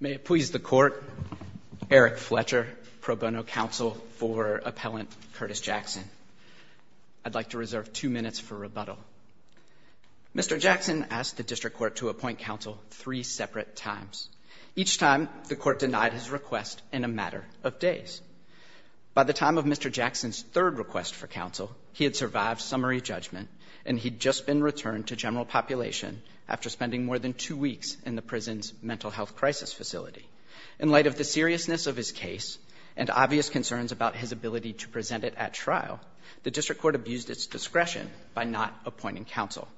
May it please the court, Eric Fletcher, pro bono counsel for appellant Curtis Jackson. I'd like to reserve two minutes for rebuttal. Mr. Jackson asked the district court to appoint counsel three separate times. Each time the court denied his request in a matter of days. By the time of Mr. Jackson's third request for counsel, he had survived summary judgment and he'd just been sent to a mental health crisis facility. In light of the seriousness of his case and obvious concerns about his ability to present it at trial, the district court abused its discretion by not appointing counsel.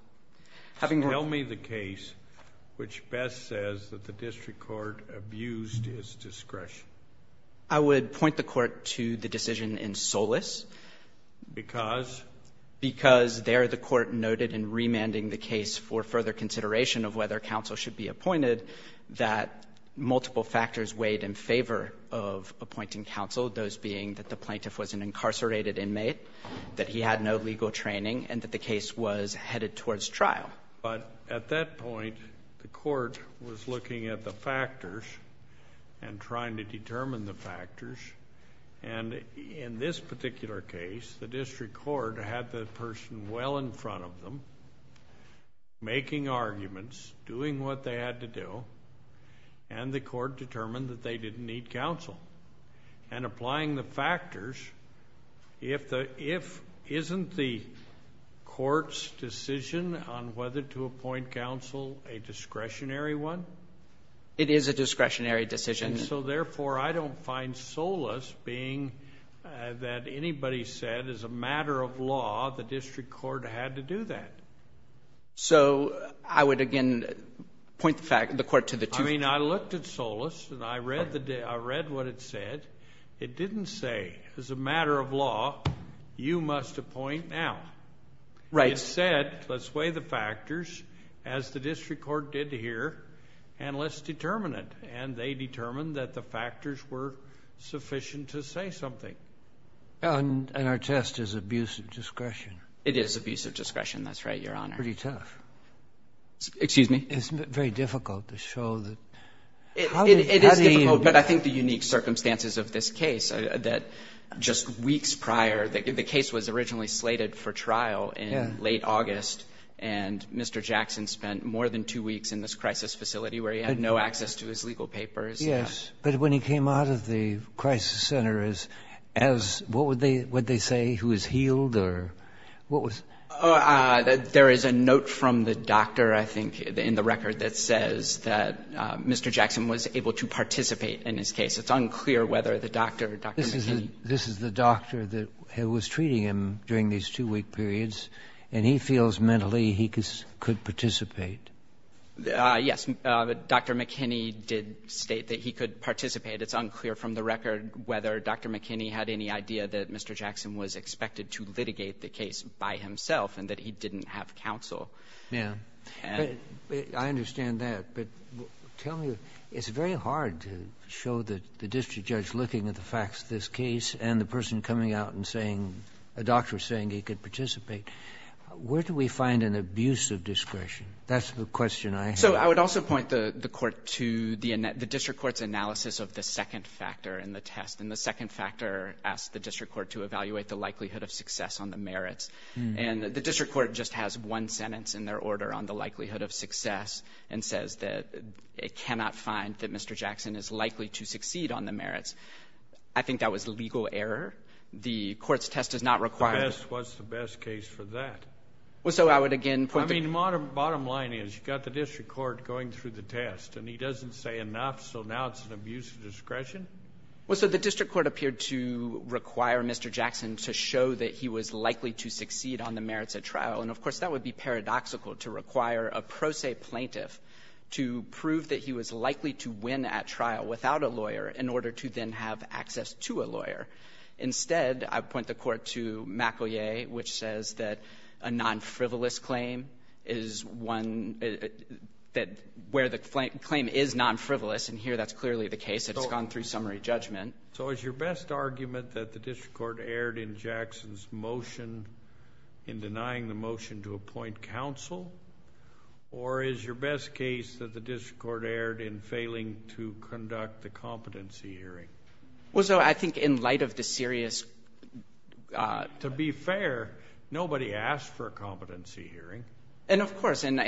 Having heard- Tell me the case which best says that the district court abused its discretion. I would point the court to the decision in Solis. Because? Because there the court noted in remanding the case for further consideration of whether that multiple factors weighed in favor of appointing counsel, those being that the plaintiff was an incarcerated inmate, that he had no legal training, and that the case was headed towards trial. But at that point, the court was looking at the factors and trying to determine the factors. And in this particular case, the district court had the person well in court, and the court determined that they didn't need counsel. And applying the factors, isn't the court's decision on whether to appoint counsel a discretionary one? It is a discretionary decision. So therefore, I don't find Solis being that anybody said as a matter of law the district court had to do that. So I would, again, point the court to the two- I mean, I looked at Solis, and I read what it said. It didn't say, as a matter of law, you must appoint now. Right. It said, let's weigh the factors, as the district court did here, and let's determine it. And they determined that the factors were sufficient to say something. And our test is abusive discretion. It is abusive discretion. That's right, Your Honor. It's pretty tough. Excuse me? It's very difficult to show the- It is difficult, but I think the unique circumstances of this case, that just weeks prior, the case was originally slated for trial in late August, and Mr. Jackson spent more than two weeks in this crisis facility where he had no access to his legal papers. Yes. But when he came out of the crisis center as, what would they say? He was healed or what was- There is a note from the doctor, I think, in the record that says that Mr. Jackson was able to participate in his case. It's unclear whether the doctor, Dr. McKinney- This is the doctor that was treating him during these two-week periods, and he feels mentally he could participate. Yes. Dr. McKinney did state that he could participate. It's unclear from the record whether Dr. McKinney had any idea that Mr. Jackson was expected to litigate the case by himself and that he didn't have counsel. Yes. And- I understand that. But tell me, it's very hard to show the district judge looking at the facts of this case and the person coming out and saying, a doctor saying he could participate. Where do we find an abuse of discretion? That's the question I have. So I would also point the court to the district court's analysis of the second factor in the test. And the second factor asked the district court to evaluate the likelihood of success on the merits. And the district court just has one sentence in their order on the likelihood of success and says that it cannot find that Mr. Jackson is likely to succeed on the merits. I think that was legal error. The court's test does not require- What's the best case for that? Well, so I would again- I mean, the bottom line is you've got the district court going through the test, and he doesn't say enough, so now it's an abuse of discretion? Well, so the district court appeared to require Mr. Jackson to show that he was likely to succeed on the merits at trial. And, of course, that would be paradoxical to require a pro se plaintiff to prove that he was likely to win at trial without I would point the court to McElyea, which says that a non-frivolous claim is one- where the claim is non-frivolous, and here that's clearly the case. It's gone through summary judgment. So is your best argument that the district court erred in Jackson's motion in denying the motion to appoint counsel? Or is your best case that the district court erred in failing to conduct the competency hearing? Well, so I think in light of the serious- To be fair, nobody asked for a competency hearing. And, of course, and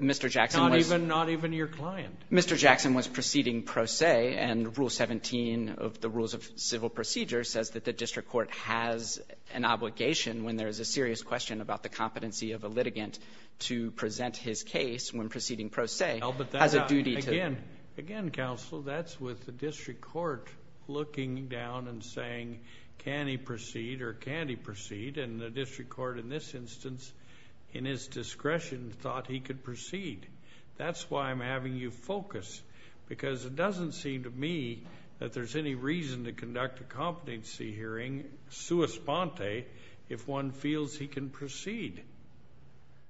Mr. Jackson was- Not even your client. Mr. Jackson was proceeding pro se, and Rule 17 of the Rules of Civil Procedure says that the district court has an obligation when there is a serious question about the competency of a litigant to present his case when proceeding pro se has a duty to- Again, counsel, that's with the district court looking down and saying, can he proceed or can he proceed? And the district court in this instance, in his discretion, thought he could proceed. That's why I'm having you focus, because it doesn't seem to me that there's any reason to conduct a competency hearing sua sponte if one feels he can proceed.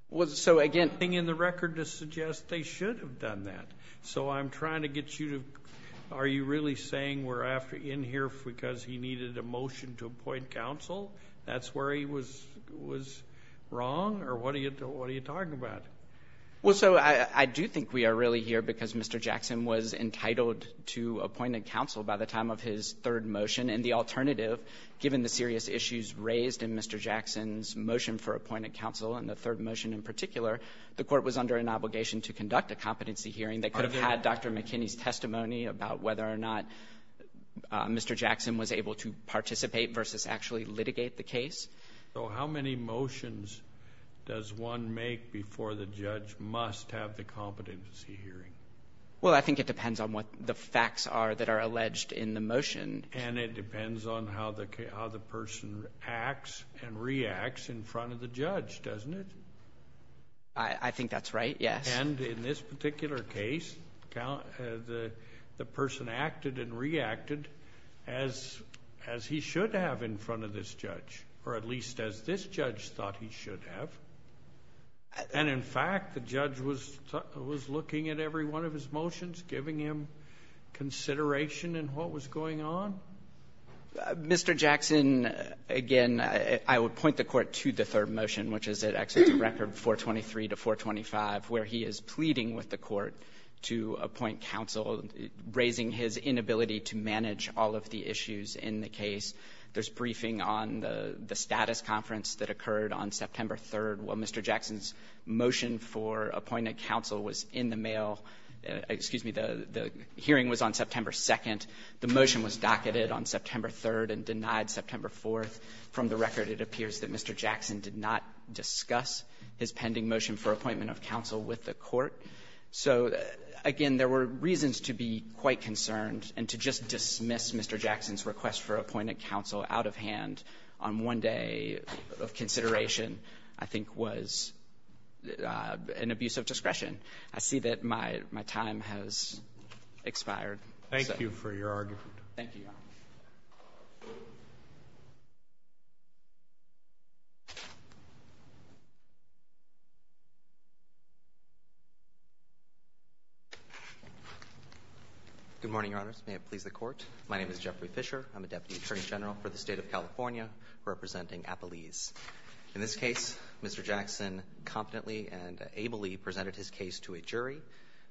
Well, so again- Nothing in the record to suggest they should have done that. So I'm trying to get you to- Are you really saying we're in here because he needed a motion to appoint counsel? That's where he was wrong? Or what are you talking about? Well, so I do think we are really here because Mr. Jackson was entitled to appoint a counsel by the time of his third motion, and the alternative, given the serious issues raised in Mr. Jackson's motion for appointing counsel and the third motion in particular, the court was under an obligation to conduct a competency hearing. They could have had Dr. McKinney's testimony about whether or not Mr. Jackson was able to participate versus actually litigate the case. So how many motions does one make before the judge must have the competency hearing? Well, I think it depends on what the facts are that are alleged in the motion. And it depends on how the person acts and reacts in front of the judge, doesn't it? I think that's right, yes. And in this particular case, the person acted and reacted as he should have in front of this judge, or at least as this judge thought he should have. And in fact, the judge was looking at every one of his motions, giving him consideration in what was going on. Mr. Jackson, again, I would point the court to the third motion, which is at Exeunt Record 423 to 425, where he is pleading with the court to appoint counsel, raising his inability to manage all of the issues in the case. There's briefing on the status conference that occurred on September 3rd. Well, Mr. Jackson's motion for appointment counsel was in the mail. Excuse me. The hearing was on September 2nd. The motion was docketed on September 3rd and denied September 4th. From the record, it appears that Mr. Jackson did not discuss his pending motion for appointment of counsel with the court. So, again, there were reasons to be quite concerned, and to just dismiss Mr. Jackson's request for appointment counsel out of hand on one day of consideration I think was an abuse of discretion. I see that my time has expired. Thank you for your argument. Thank you, Your Honor. Good morning, Your Honors. May it please the Court. My name is Jeffrey Fisher. I'm a Deputy Attorney General for the State of California, representing Appalese. In this case, Mr. Jackson competently and ably presented his case to a jury,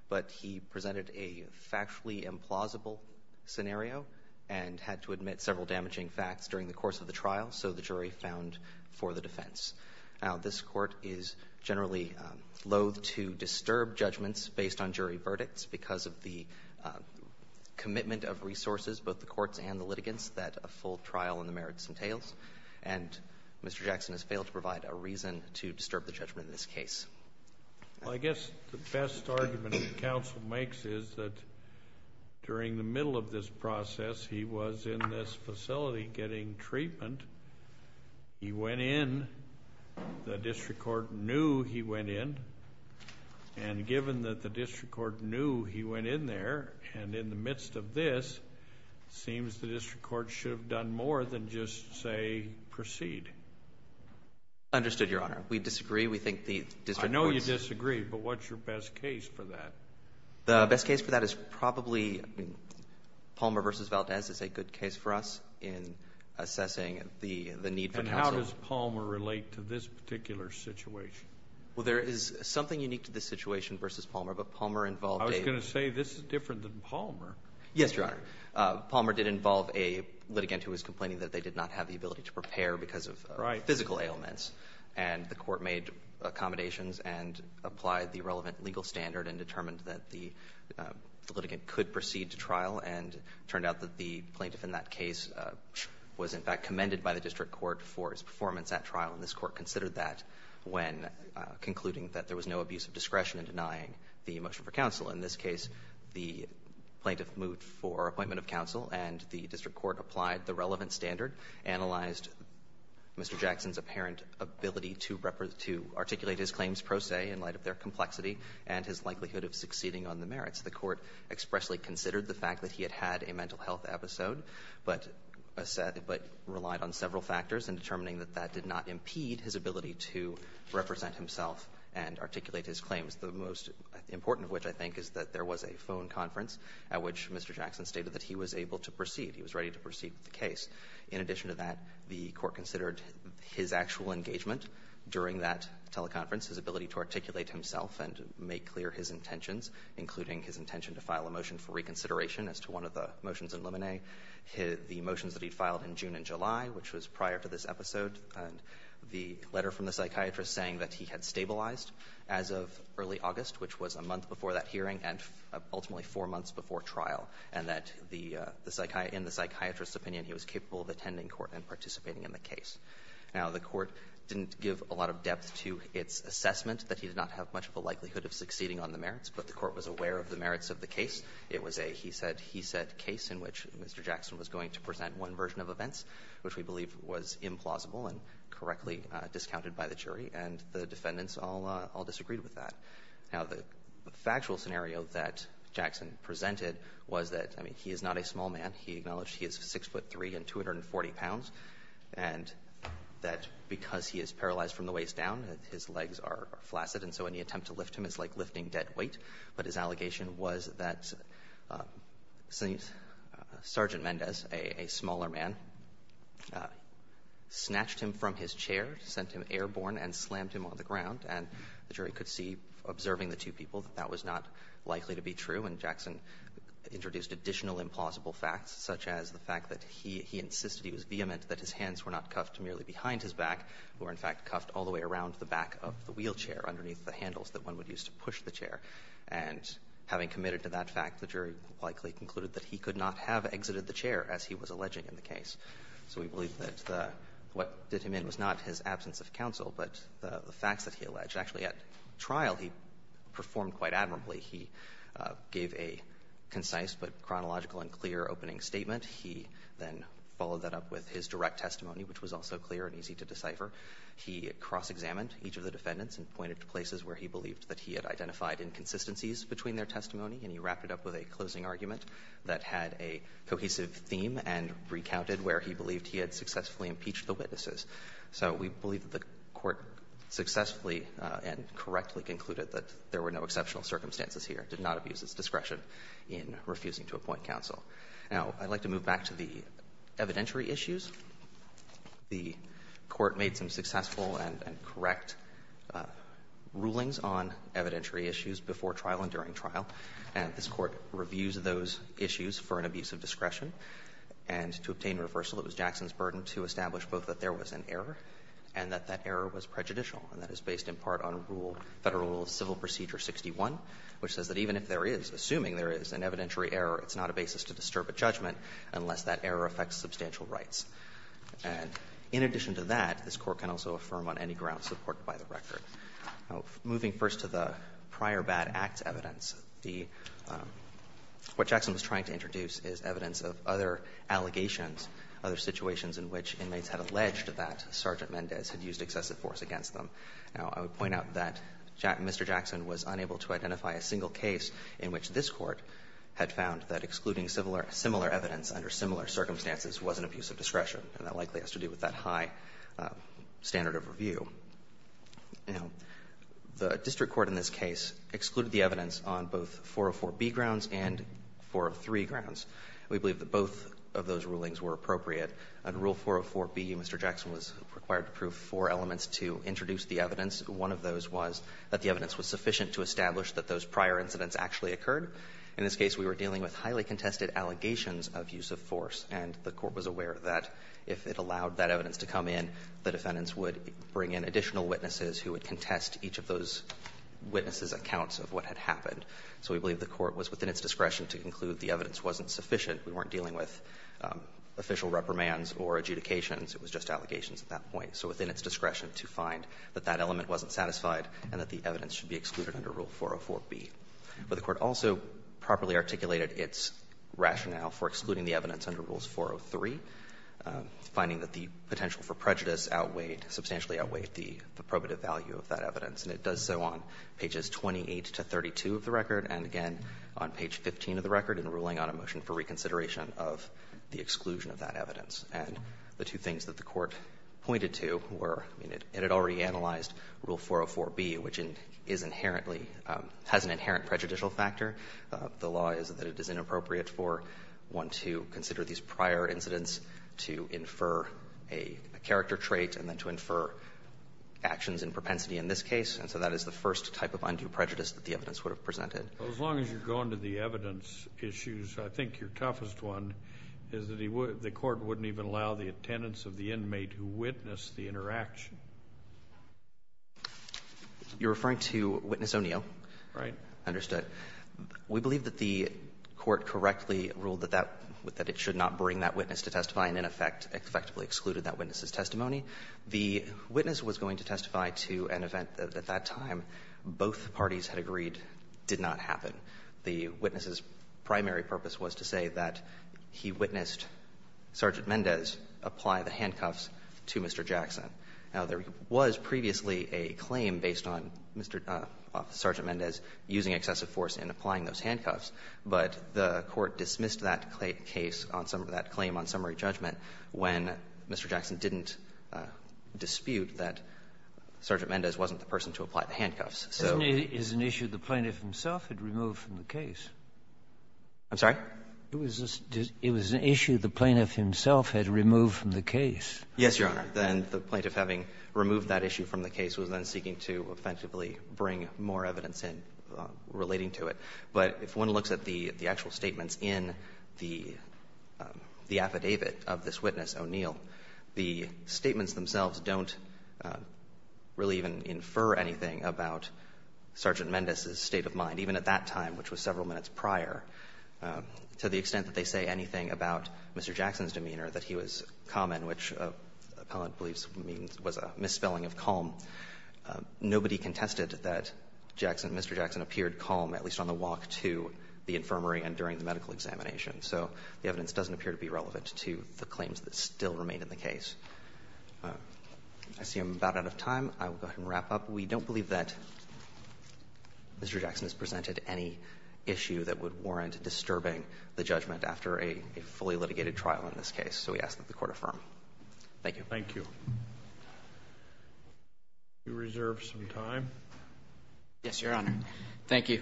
but he presented a factually implausible scenario and had to admit several damaging facts during the course of the trial, so the jury found for the defense. Now, this Court is generally loathe to disturb judgments based on jury verdicts because of the commitment of resources, both the courts and the litigants, that a full trial in the merits entails. And Mr. Jackson has failed to provide a reason to disturb the judgment in this case. Well, I guess the best argument that counsel makes is that during the middle of this process, he was in this facility getting treatment. He went in. The district court knew he went in. And given that the district court knew he went in there, and in the midst of this, it seems the district court should have done more than just say proceed. Understood, Your Honor. We disagree. We think the district court's— I know you disagree, but what's your best case for that? The best case for that is probably Palmer v. Valdez is a good case for us in assessing the need for counsel. And how does Palmer relate to this particular situation? Well, there is something unique to this situation versus Palmer, but Palmer involved a— I was going to say this is different than Palmer. Yes, Your Honor. Palmer did involve a litigant who was complaining that they did not have the ability to prepare because of— Right. —physical ailments. And the court made accommodations and applied the relevant legal standard and determined that the litigant could proceed to trial. And it turned out that the plaintiff in that case was, in fact, commended by the district court for his performance at trial. And this court considered that when concluding that there was no abuse of discretion in denying the motion for counsel. In this case, the plaintiff moved for appointment of counsel and the district court applied the relevant standard, analyzed Mr. Jackson's apparent ability to articulate his claims pro se in light of their complexity and his likelihood of succeeding on the merits. The court expressly considered the fact that he had had a mental health episode but relied on several factors in determining that that did not impede his ability to represent himself and articulate his claims. The most important of which, I think, is that there was a phone conference at which Mr. Jackson stated that he was able to proceed. He was ready to proceed with the case. In addition to that, the court considered his actual engagement during that teleconference, his ability to articulate himself and make clear his intentions, including his intention to file a motion for reconsideration as to one of the motions in Lemonet, the motions that he filed in June and July, which was prior to this episode, and the letter from the psychiatrist saying that he had stabilized as of early August, which was a month before that hearing and ultimately four months before trial, and that in the psychiatrist's opinion he was capable of attending court and participating in the case. Now, the court didn't give a lot of depth to its assessment that he did not have much of a likelihood of succeeding on the merits, but the court was aware of the merits of the case. It was a, he said, he said case in which Mr. Jackson was going to present one version of events, which we believe was implausible and correctly discounted by the jury, and the defendants all disagreed with that. Now, the factual scenario that Jackson presented was that, I mean, he is not a small man. He acknowledged he is 6'3 and 240 pounds, and that because he is paralyzed from the waist down, his legs are flaccid, and so any attempt to lift him is like lifting dead weight. But his allegation was that Sergeant Mendez, a smaller man, snatched him from his chair, sent him airborne, and slammed him on the ground. And the jury could see, observing the two people, that that was not likely to be true, and Jackson introduced additional implausible facts, such as the fact that he insisted he was vehement, that his hands were not cuffed merely behind his back, were in fact And having committed to that fact, the jury likely concluded that he could not have exited the chair, as he was alleging in the case. So we believe that what did him in was not his absence of counsel, but the facts that he alleged. Actually, at trial he performed quite admirably. He gave a concise but chronological and clear opening statement. He then followed that up with his direct testimony, which was also clear and easy to decipher. He cross-examined each of the defendants and pointed to places where he believed that he had identified inconsistencies between their testimony, and he wrapped it up with a closing argument that had a cohesive theme and recounted where he believed he had successfully impeached the witnesses. So we believe that the Court successfully and correctly concluded that there were no exceptional circumstances here. It did not abuse its discretion in refusing to appoint counsel. Now, I'd like to move back to the evidentiary issues. The Court made some successful and correct rulings on evidentiary issues before trial and during trial, and this Court reviews those issues for an abuse of discretion. And to obtain reversal, it was Jackson's burden to establish both that there was an error and that that error was prejudicial, and that is based in part on rule, Federal Rule of Civil Procedure 61, which says that even if there is, assuming there is, an evidentiary error, it's not a basis to disturb a judgment unless that error affects substantial rights. And in addition to that, this Court can also affirm on any grounds supported by the record. Now, moving first to the prior bad act evidence, the — what Jackson was trying to introduce is evidence of other allegations, other situations in which inmates had alleged that Sergeant Mendez had used excessive force against them. Now, I would point out that Mr. Jackson was unable to identify a single case in which this Court had found that excluding similar evidence under similar circumstances was an abuse of discretion, and that likely has to do with that high standard of review. Now, the district court in this case excluded the evidence on both 404b grounds and 403 grounds. We believe that both of those rulings were appropriate. Under Rule 404b, Mr. Jackson was required to prove four elements to introduce the evidence. One of those was that the evidence was sufficient to establish that those prior incidents actually occurred. In this case, we were dealing with highly contested allegations of use of force, and the Court was aware that if it allowed that evidence to come in, the defendants would bring in additional witnesses who would contest each of those witnesses' accounts of what had happened. So we believe the Court was within its discretion to conclude the evidence wasn't sufficient. We weren't dealing with official reprimands or adjudications. It was just allegations at that point. So within its discretion to find that that element wasn't satisfied and that the evidence should be excluded under Rule 404b. But the Court also properly articulated its rationale for excluding the evidence under Rules 403, finding that the potential for prejudice outweighed, substantially outweighed the probative value of that evidence. And it does so on pages 28 to 32 of the record and, again, on page 15 of the record in ruling on a motion for reconsideration of the exclusion of that evidence. And the two things that the Court pointed to were, I mean, it had already analyzed Rule 404b, which is inherently – has an inherent prejudicial factor. The law is that it is inappropriate for one to consider these prior incidents to infer a character trait and then to infer actions in propensity in this case. And so that is the first type of undue prejudice that the evidence would have presented. Well, as long as you're going to the evidence issues, I think your toughest one is that he would – the Court wouldn't even allow the attendance of the inmate who witnessed the interaction. You're referring to Witness O'Neill? Right. Understood. We believe that the Court correctly ruled that that – that it should not bring that witness to testify and, in effect, effectively excluded that witness's testimony. The witness was going to testify to an event that, at that time, both parties had agreed did not happen. The witness's primary purpose was to say that he witnessed Sergeant Mendez apply the handcuffs to Mr. Jackson. Now, there was previously a claim based on Mr. – of Sergeant Mendez using excessive force in applying those handcuffs, but the Court dismissed that case on some of that claim on summary judgment when Mr. Jackson didn't dispute that Sergeant Mendez wasn't the person to apply the handcuffs. So the case was not a case of a dispute. Kennedy is an issue the plaintiff himself had removed from the case. I'm sorry? It was an issue the plaintiff himself had removed from the case. Yes, Your Honor. Then the plaintiff, having removed that issue from the case, was then seeking to effectively bring more evidence in relating to it. But if one looks at the actual statements in the affidavit of this witness, O'Neill, the statements themselves don't really even infer anything about Sergeant Mendez's state of mind, even at that time, which was several minutes prior, to the extent that they say anything about Mr. Jackson's demeanor, that he was calm and which the appellant believes was a misspelling of calm. Nobody contested that Mr. Jackson appeared calm, at least on the walk to the infirmary and during the medical examination. So the evidence doesn't appear to be relevant to the claims that still remain in the case. I see I'm about out of time. I will go ahead and wrap up. We don't believe that Mr. Jackson has presented any issue that would warrant disturbing the judgment after a fully litigated trial in this case, so we ask that the Court affirm. Thank you. Thank you. Do you reserve some time? Yes, Your Honor. Thank you.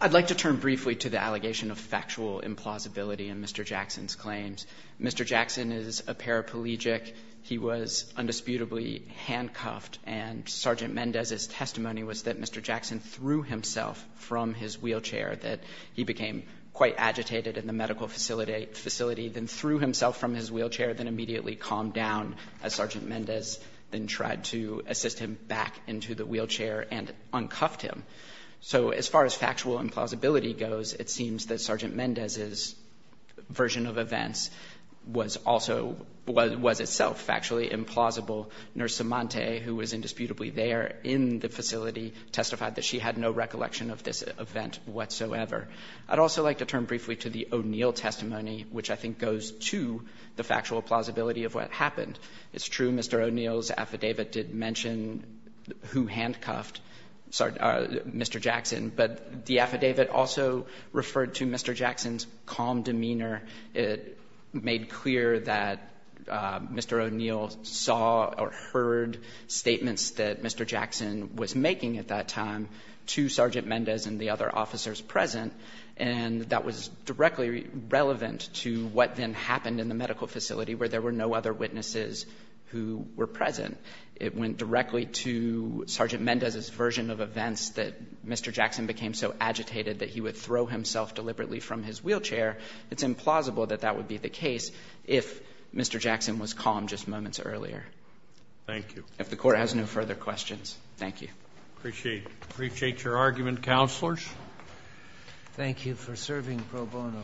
I'd like to turn briefly to the allegation of factual implausibility in Mr. Jackson's claims. Mr. Jackson is a paraplegic. He was undisputably handcuffed, and Sergeant Mendez's testimony was that Mr. Jackson threw himself from his wheelchair, that he became quite agitated in the medical facility, then threw himself from his wheelchair, then immediately calmed down as Sergeant Mendez then tried to assist him back into the wheelchair and uncuffed him. So as far as factual implausibility goes, it seems that Sergeant Mendez's version of events was also was itself factually implausible. Nurse Cimante, who was indisputably there in the facility, testified that she had no recollection of this event whatsoever. I'd also like to turn briefly to the O'Neill testimony, which I think goes to the factual plausibility of what happened. It's true, Mr. O'Neill's affidavit did mention who handcuffed Mr. Jackson, but the affidavit made clear that Mr. O'Neill saw or heard statements that Mr. Jackson was making at that time to Sergeant Mendez and the other officers present, and that was directly relevant to what then happened in the medical facility, where there were no other witnesses who were present. It went directly to Sergeant Mendez's version of events that Mr. Jackson became so agitated that he would throw himself deliberately from his wheelchair. It's implausible that that would be the case if Mr. Jackson was calm just moments earlier. If the Court has no further questions, thank you. Appreciate your argument, counselors. Thank you for serving pro bono.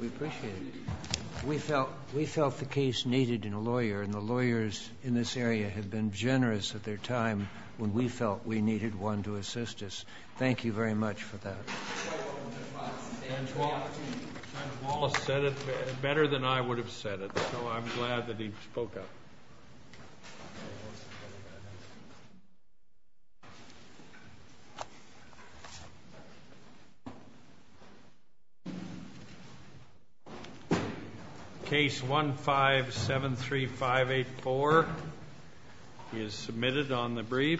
We appreciate it. We felt the case needed a lawyer, and the lawyers in this area have been generous at their time when we felt we needed one to assist us. Thank you very much for that. And Wallace said it better than I would have said it, so I'm glad that he spoke up. Case 1573584 is submitted on the brief.